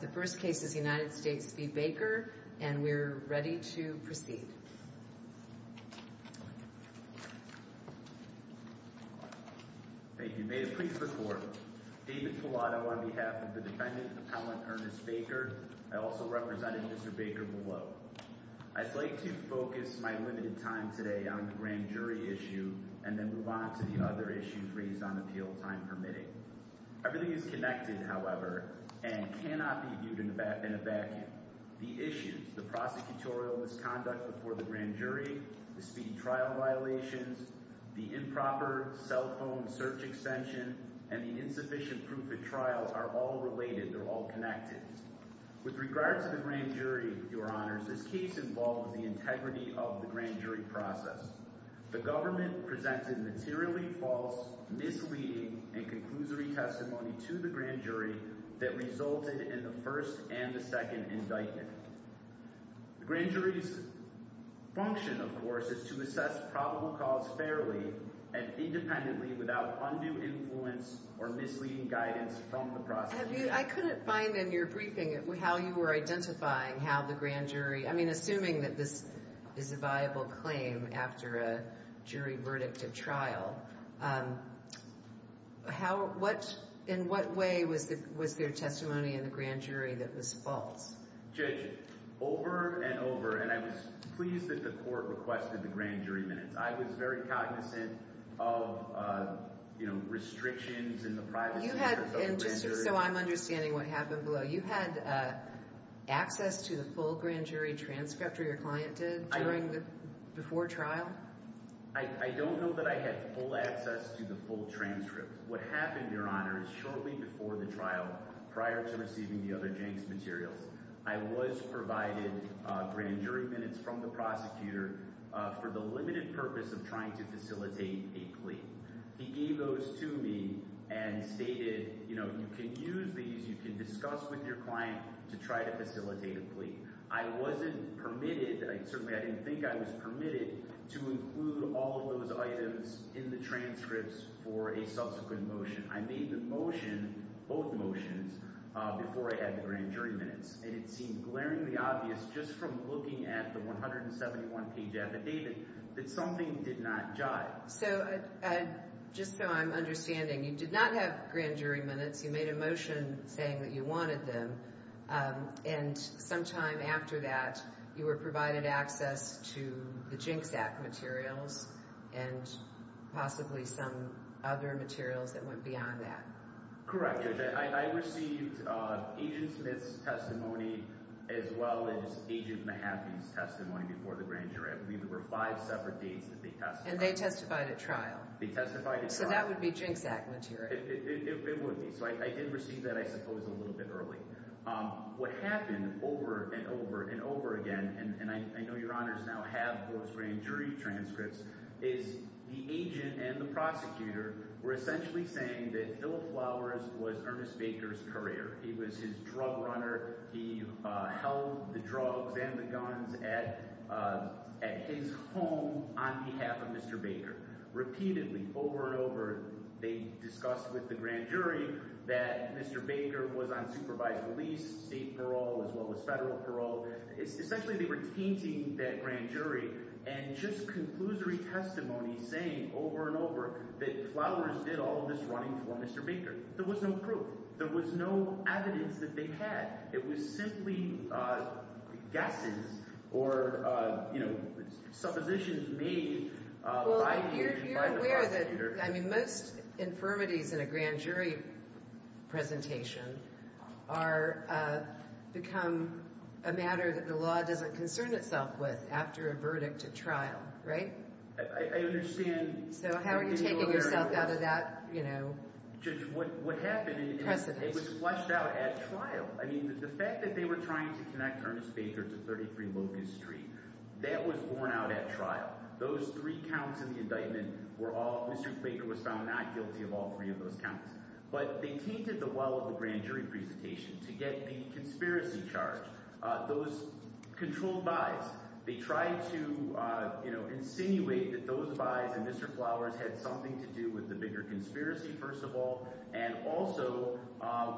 The first case is United States v. Baker and we're ready to proceed. Thank you. May it please the court. David Pallotto on behalf of the defendant, Appellant Ernest Baker. I also represented Mr. Baker below. I'd like to focus my limited time today on the grand jury issue and then move on to the other issue raised on appeal time permitting. Everything is connected, however, and cannot be viewed in a vacuum. The issues, the prosecutorial misconduct before the grand jury, the speedy trial violations, the improper cell phone search extension, and the insufficient proof at trials are all related. They're all connected. With regard to the grand jury, your honors, this case involves the integrity of the grand jury process. The to the grand jury that resulted in the first and the second indictment. The grand jury's function, of course, is to assess probable cause fairly and independently without undue influence or misleading guidance from the process. I couldn't find in your briefing how you were identifying how the grand jury, I mean, assuming that this is a viable claim after a jury verdict at trial, in what way was there testimony in the grand jury that was false? Judge, over and over, and I was pleased that the court requested the grand jury minutes. I was very cognizant of, you know, restrictions in the privacy. You had, and just so I'm understanding what happened below, you had access to the full grand jury transcript or your client did before trial? I don't know that I had full access to the full transcript. What happened, your honors, shortly before the trial, prior to receiving the other janks materials, I was provided grand jury minutes from the prosecutor for the limited purpose of trying to facilitate a plea. He egos to me and stated, you know, you can use these, you can discuss with your client to try to facilitate a plea. I wasn't permitted, certainly I didn't think I was permitted, to include all of those items in the transcripts for a subsequent motion. I made the motion, both motions, before I had the grand jury minutes and it seemed glaringly obvious just from looking at the 171 page affidavit that something did not jive. So, just so I'm understanding, you did not have grand jury minutes. You made a motion saying that you wanted them and sometime after that, you were provided access to the jinx act materials and possibly some other materials that went beyond that. Correct, Judge. I received Agent Smith's testimony as well as Agent Mahaffey's testimony before the grand jury. I believe there were five separate dates that they testified. And they at trial. They testified at trial. So that would be jinx act material. It would be. So I did receive that, I suppose, a little bit early. What happened over and over and over again, and I know your honors now have those grand jury transcripts, is the agent and the prosecutor were essentially saying that Philip Flowers was Ernest Baker's courier. He was his drug runner. He held the drugs and the guns at his home on behalf of Mr. Baker. Repeatedly, over and over, they discussed with the grand jury that Mr. Baker was on supervised release, state parole, as well as federal parole. Essentially, they were tainting that grand jury and just conclusory testimony saying over and over that Flowers did all this running for Mr. Baker. There was no proof. There was no evidence that they had. It was simply guesses or, you know, suppositions made by the agent, by the prosecutor. Well, you're aware that most infirmities in a grand jury presentation are become a matter that the law doesn't concern itself with after a verdict at trial, right? I understand. So how are you taking yourself out of that, you know, precedence? Judge, what happened, it was fleshed out at trial. I mean, the fact that they were trying to connect Ernest Baker to 33 Locust Street, that was borne out at trial. Those three counts in the indictment were all, Mr. Baker was found not guilty of all three of those counts. But they tainted the well of the grand jury presentation to get the conspiracy charge. Those controlled buys, they tried to, you know, insinuate that those buys and Mr. Flowers had something to do with the bigger conspiracy, first of all, and also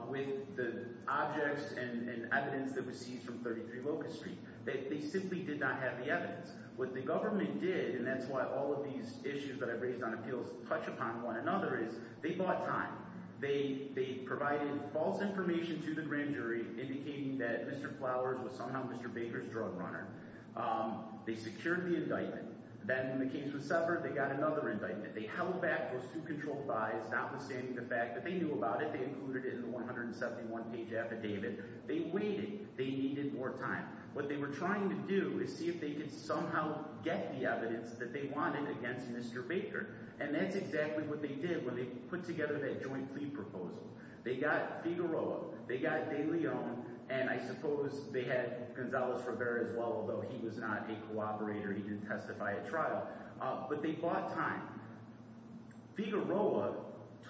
with the objects and evidence that was seized from 33 Locust Street. They simply did not have the evidence. What the government did, and that's why all of these issues that I've raised on appeals touch upon one another, is they bought time. They provided false information to the grand jury indicating that Mr. Flowers was somehow Mr. Baker's drug runner. They secured the indictment. Then when the case was severed, they got another indictment. They held back those two controlled buys, notwithstanding the fact that they knew about it. They included it in the 171 page affidavit. They waited. They needed more time. What they were trying to do is see if they could somehow get the evidence that they wanted against Mr. Baker. And that's exactly what they did when they put together that joint plea proposal. They got Figueroa, they got De Leon, and I suppose they had Gonzalez-Rivera as well, although he was not a cooperator. He didn't testify at trial. But they bought time. Figueroa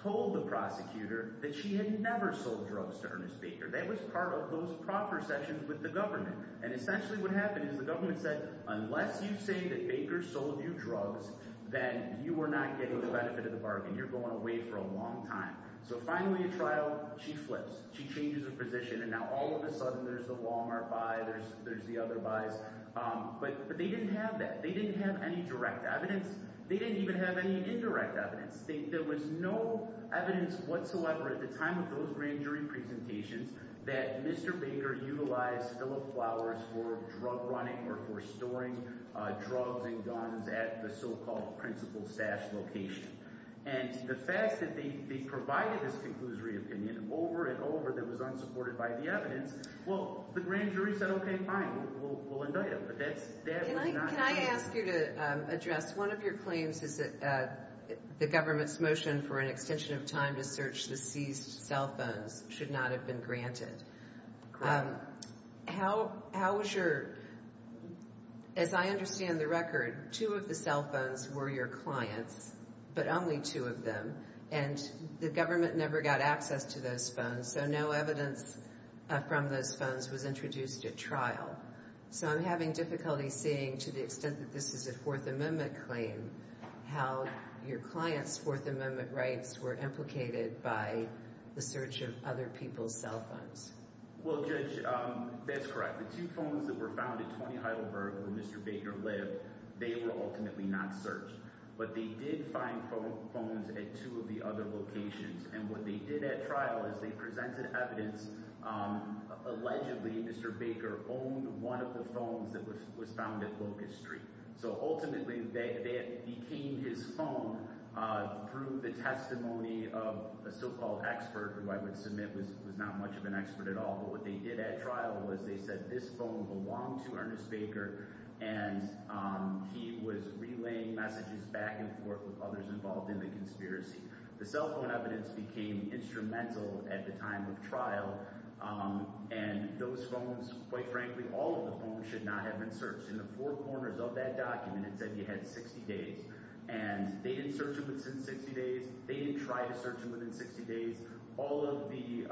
told the prosecutor that she had never sold drugs to Ernest Baker. That was part of those proper sessions with the government. And essentially what happened is the government said, unless you say that Baker sold you drugs, then you were not getting the benefit of the bargain. You're going away for a long time. So finally at trial, she flips. She changes her position, and now all of a sudden there's the Walmart buy, there's the other buys. But they didn't have that. They didn't have any direct evidence. They didn't even have any indirect evidence. There was no evidence whatsoever at the time of those grand jury presentations that Mr. Baker utilized Philip Flowers for drug running or for storing drugs and guns at the so-called principal's stash location. And the fact that they provided this conclusory opinion over and over that was unsupported by the evidence, well, the grand jury said, okay, fine, we'll indict him. But that was not true. Can I ask you to address one of your claims is that the government's motion for an extension of time to search the seized cell phones should not have been granted. As I understand the record, two of the cell phones were your clients, but only two of them. And the government never got access to those phones, so no evidence from those phones was introduced at trial. So I'm having difficulty seeing, to the extent that this is a Fourth Amendment claim, how your clients' Fourth Amendment rights were implicated by the search of other people's cell phones. Well, Judge, that's correct. The two phones that were found at 20 Heidelberg where Mr. Baker lived, they were ultimately not searched. But they did find phones at two of the other locations. And what they did at trial is they presented evidence. Allegedly, Mr. Baker owned one of the phones that was found at Locust Street. So ultimately, that became his phone through the testimony of a so-called expert, who I would submit was not much of an expert at all. But what they did at trial was they said this phone belonged to Ernest Baker, and he was relaying messages back and forth with others involved in the conspiracy. The cell phone evidence became instrumental at the time of trial, and those phones, quite frankly, all of the phones should not have been searched. In the four corners of that document, it said you had 60 days. And they didn't search them within 60 days. They tried to search them within 60 days. All of the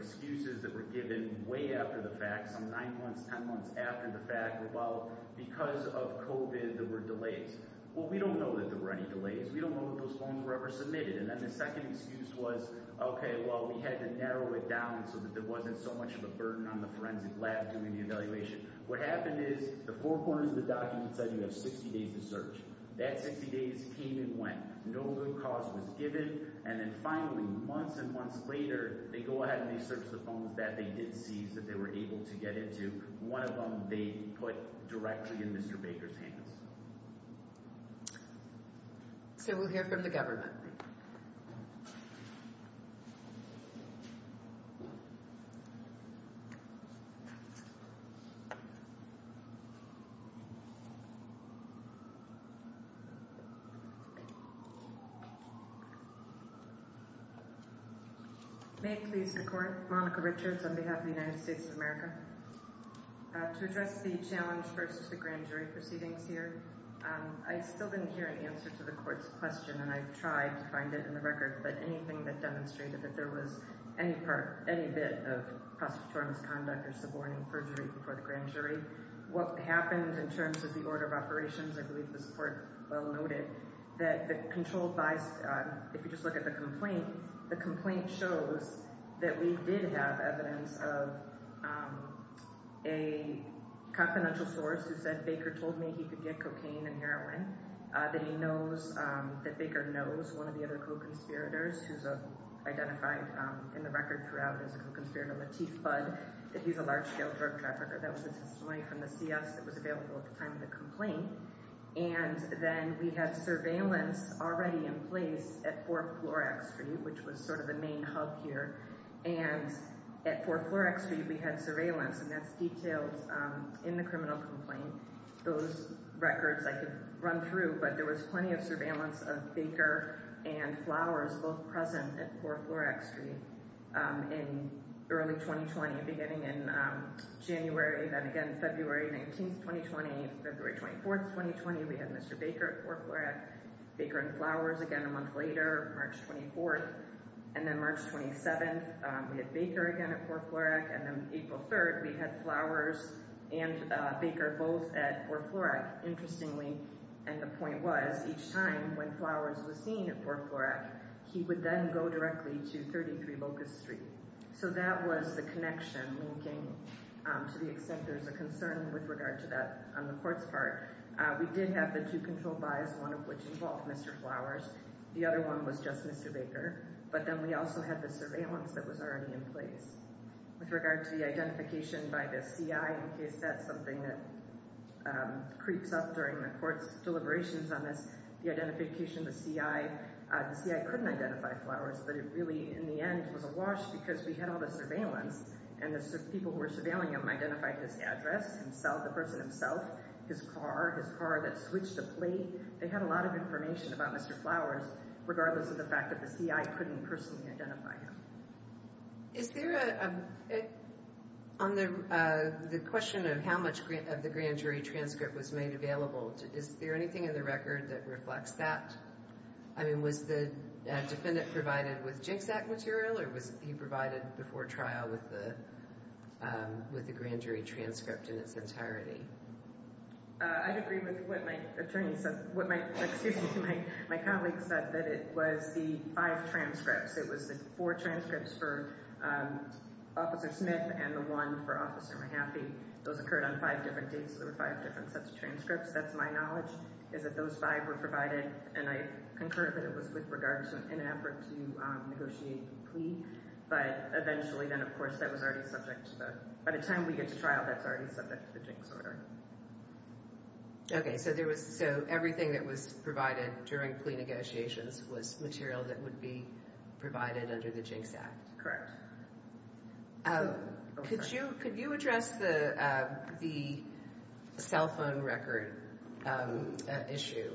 excuses that were given way after the fact, some nine months, 10 months after the fact, were, well, because of COVID, there were delays. Well, we don't know that there were any delays. We don't know if those phones were ever submitted. And then the second excuse was, okay, well, we had to narrow it down so that there wasn't so much of a burden on the forensic lab doing the evaluation. What happened is the four corners of the document said you have 60 days to search. That 60 days came and went. No new cause was given. And then, finally, months and months later, they go ahead and they search the phones that they did seize that they were able to get into. One of them they put directly in Mr. Baker's hands. So we'll hear from the government. Monica Richards May it please the Court. Monica Richards on behalf of the United States of America. To address the challenge versus the grand jury proceedings here, I still didn't hear any answer to the court's question. And I've tried to find it in the record. But anything that demonstrated that there was any part, any bit of prosecutorial misconduct or suborning perjury before the grand jury proceedings, I believe the Court well noted that the controlled bias, if you just look at the complaint, the complaint shows that we did have evidence of a confidential source who said Baker told me he could get cocaine and heroin, that he knows, that Baker knows one of the other co-conspirators who's identified in the record throughout as a co-conspirator, Latif Budd, that he's a large-scale drug trafficker. That was a testimony from the CS that was available at the time of the complaint. And then we had surveillance already in place at 4th Floor X-Street, which was sort of the main hub here. And at 4th Floor X-Street, we had surveillance, and that's detailed in the criminal complaint. Those records I could run through, but there was plenty of surveillance of Baker and Flowers, both present at 4th Floor X-Street in early 2020, beginning in January, then again February 19th, 2020, February 24th, 2020, we had Mr. Baker at 4th Floor X-Street, Baker and Flowers again a month later, March 24th, and then March 27th, we had Baker again at 4th Floor X-Street, and then April 3rd, we had Flowers and Baker both at 4th Floor X-Street. Interestingly, and the point was, each time when Flowers was seen at 4th Floor X-Street, he would then go directly to 33 Locust Street. So that was the connection linking to the extent there's a concern with regard to that on the court's part. We did have the two controlled buys, one of which involved Mr. Flowers, the other one was just Mr. Baker, but then we also had the surveillance that was already in place. With regard to the identification by the CI, in case that's something that creeps up during the court's deliberations on this, the identification of the CI, the CI couldn't identify Flowers, but it really, in the end, was a wash because we had all the surveillance, and the people who were surveilling him identified his address, himself, the person himself, his car, his car that switched to plate. They had a lot of information about Mr. Flowers, regardless of the fact that the CI couldn't personally identify him. Is there a, on the question of how much of the grand jury transcript was made available, is there anything in the record that reflects that? I mean, was the defendant provided with JCSAC material, or was he provided before trial with the grand jury transcript in its entirety? I'd agree with what my attorney said, what my, excuse me, my colleague said, that it was the five transcripts. It was the four transcripts for Officer Smith and the one for Officer Mahaffey. Those occurred on five different dates, so there were five different sets of transcripts. That's my knowledge, is that those five were provided, and I concur that it was with regard to an effort to negotiate the plea, but eventually, then, of course, that was already subject to the, by the time we get to trial, that's already subject to the Jinx order. Okay, so there was, so everything that was provided during plea negotiations was material that would be provided under the Jinx Act? Correct. Could you address the cell phone record issue?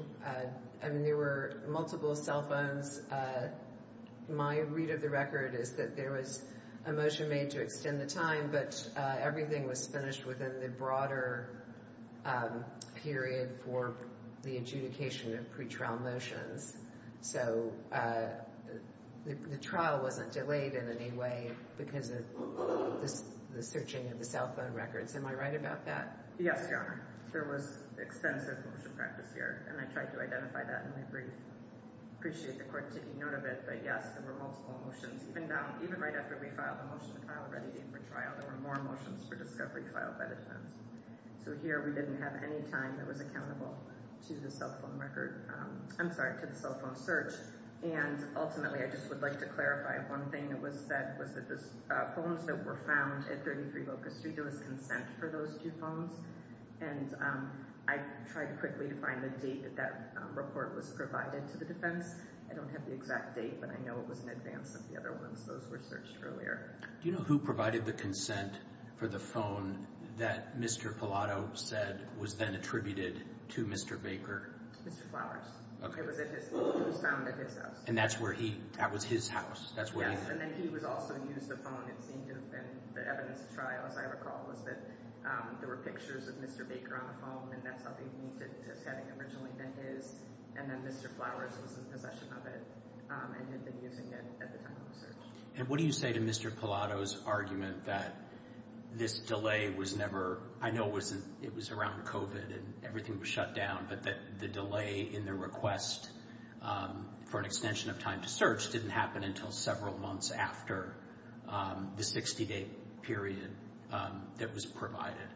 I mean, there were multiple cell phones. My read of the record is that there was a motion made to extend the time, but everything was finished within the broader period for the adjudication of pre-trial motions, so the trial wasn't delayed in any way because of the searching of the cell phone records. Am I right about that? Yes, Your Honor. There was extensive motion practice here, and I tried to identify that in my brief. I appreciate the court taking note of it, but yes, there were multiple motions. Even down, even right after we filed the motion to file a ready date for trial, there were more motions for discovery filed by the defense. So here, we didn't have any time that was accountable to the cell phone record, I'm sorry, to the cell phone search, and ultimately, I just would like to clarify one thing that was said was that the phones that were found at 33 Locust Street, there was consent for those two phones, and I tried quickly to find the date that that report was provided to the defense. I don't have the exact date, but I know it was in advance of the earlier. Do you know who provided the consent for the phone that Mr. Pallotto said was then attributed to Mr. Baker? Mr. Flowers. It was at his, it was found at his house. And that's where he, that was his house? Yes, and then he was also used the phone, it seemed, and the evidence of trials, I recall, was that there were pictures of Mr. Baker on the phone, and that's how they And what do you say to Mr. Pallotto's argument that this delay was never, I know it wasn't, it was around COVID and everything was shut down, but that the delay in the request for an extension of time to search didn't happen until several months after the 60-day period that was provided?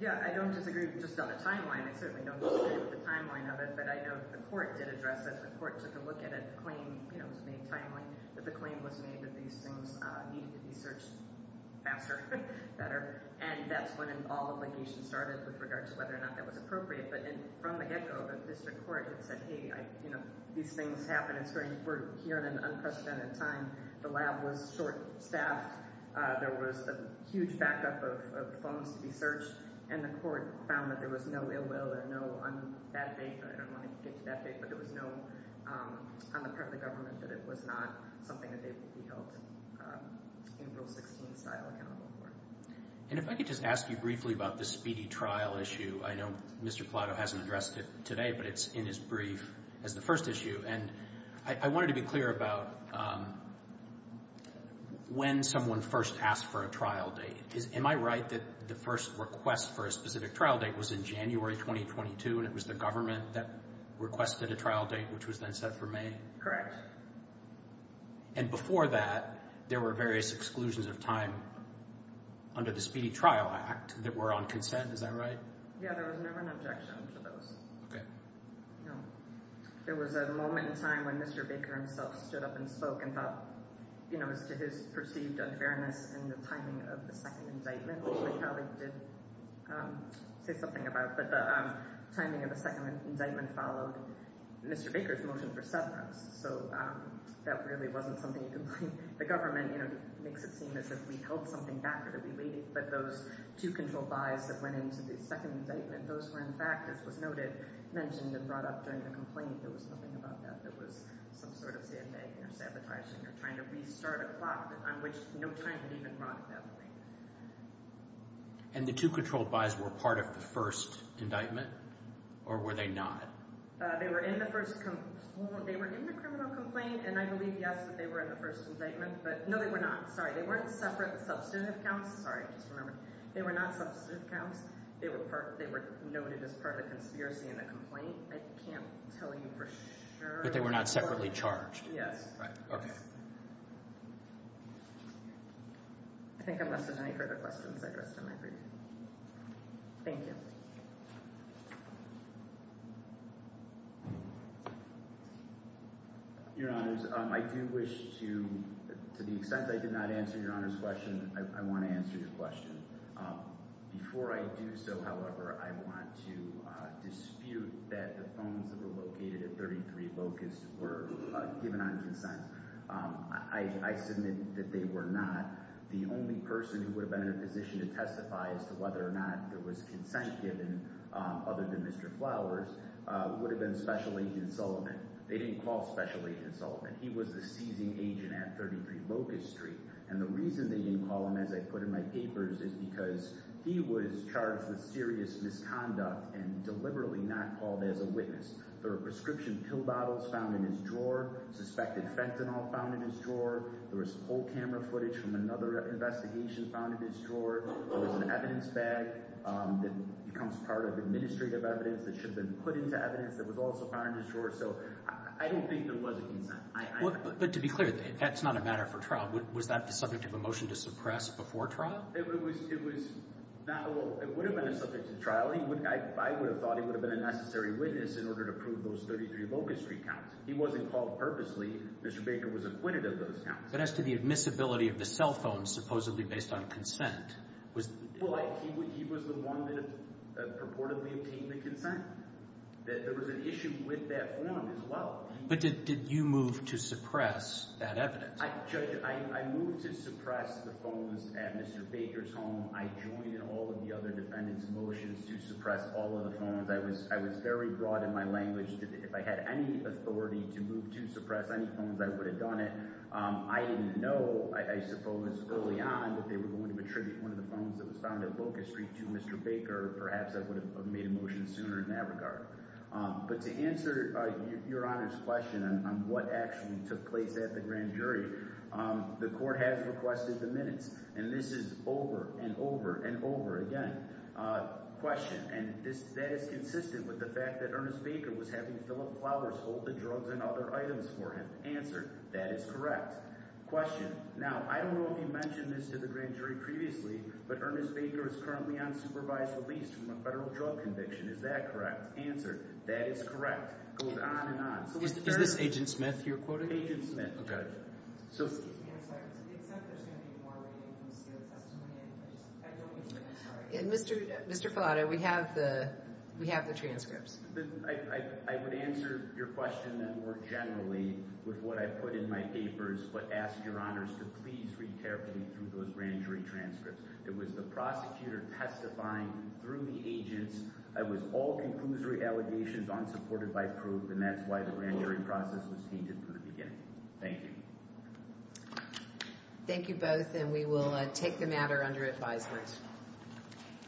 Yeah, I don't disagree just on the timeline, I certainly don't disagree with the timeline of it, but I know the court did address it, court took a look at it, the claim, you know, was made timely, that the claim was made that these things needed to be searched faster, better, and that's when all the litigation started with regards to whether or not that was appropriate, but from the get-go, the district court had said, hey, you know, these things happen, it's very important, we're here at an unprecedented time, the lab was short-staffed, there was a huge backup of phones to be searched, and the court found that there was no ill will or no, on that date, I don't want to get to that date, but there was no, on the part of the government, that it was not something that they would be held in Rule 16 style accountable for. And if I could just ask you briefly about this speedy trial issue, I know Mr. Plato hasn't addressed it today, but it's in his brief as the first issue, and I wanted to be clear about when someone first asked for a trial date. Am I right that the first request for a specific trial date was in January 2022 and it was the that requested a trial date which was then set for May? Correct. And before that, there were various exclusions of time under the Speedy Trial Act that were on consent, is that right? Yeah, there was never an objection to those. Okay. There was a moment in time when Mr. Baker himself stood up and spoke and thought, you know, as to his perceived unfairness in the timing of the second indictment followed Mr. Baker's motion for severance. So that really wasn't something you could blame the government, you know, makes it seem as if we held something back or that we waited, but those two controlled buys that went into the second indictment, those were in fact, as was noted, mentioned and brought up during the complaint, there was nothing about that. There was some sort of sabotaging or trying to restart a clock on which no time had even brought up. And the two controlled buys were part of the first indictment or were they not? They were in the first, they were in the criminal complaint and I believe, yes, that they were in the first indictment, but no, they were not. Sorry, they weren't separate substantive counts. Sorry, I just remembered. They were not substantive counts. They were part, they were noted as part of the conspiracy in the complaint. I can't tell you for sure. They were not separately charged. Yes. Okay. I think I'm less than ready for the questions addressed in my brief. Thank you. Your honors, I do wish to, to the extent I did not answer your honor's question, I want to answer your question. Before I do so, however, I want to dispute that the phones that 33 Locust were given on consent. I submit that they were not. The only person who would have been in a position to testify as to whether or not there was consent given, other than Mr. Flowers, would have been Special Agent Sullivan. They didn't call Special Agent Sullivan. He was the seizing agent at 33 Locust Street. And the reason they didn't call him, as I put in my papers, is because he was charged with serious misconduct and deliberately not called as a witness. There were prescription pill bottles found in his drawer. Suspected fentanyl found in his drawer. There was full camera footage from another investigation found in his drawer. There was an evidence bag that becomes part of administrative evidence that should have been put into evidence that was also found in his drawer. So I don't think there was a consent. But to be clear, that's not a matter for trial. Was that the subject of a motion to suppress before trial? It was, it was not. Well, it would have been a subject to trial. I would have thought it would have been a necessary witness in order to prove those 33 Locust Street counts. He wasn't called purposely. Mr. Baker was acquitted of those counts. But as to the admissibility of the cell phones, supposedly based on consent, was... Well, he was the one that purportedly obtained the consent. There was an issue with that form as well. But did you move to suppress that evidence? Judge, I moved to suppress the phones at Mr. Baker's home. I joined all of the other defendants' motions to suppress all of the phones. I was very broad in my language. If I had any authority to move to suppress any phones, I would have done it. I didn't know, I suppose early on, that they were going to attribute one of the phones that was found at Locust Street to Mr. Baker. Perhaps I would have made a motion sooner in that regard. But to answer Your Honor's question on what actually took place at the grand jury, the court has requested the minutes. And this is over and over and over again. Question. And that is consistent with the fact that Ernest Baker was having Philip Flowers hold the drugs and other items for him. Answer. That is correct. Question. Now, I don't know if you mentioned this to the grand jury previously, but Ernest Baker is currently on supervised release from a federal drug conviction. Is that correct? Answer. That is correct. It goes on and on. Is this Agent Smith you're quoting? Agent Smith. Okay. Excuse me. I'm sorry. To the extent there's going to be more reading from the seal of testimony, I just, I don't understand. I'm sorry. Mr. Filato, we have the transcripts. I would answer your question more generally with what I put in my papers, but ask Your Honors to please read carefully through those grand jury transcripts. It was the prosecutor testifying through the agents. It was all conclusory allegations, unsupported by proof, and that's why the grand jury process was heeded from the beginning. Thank you. Thank you both, and we will take the matter under advisement.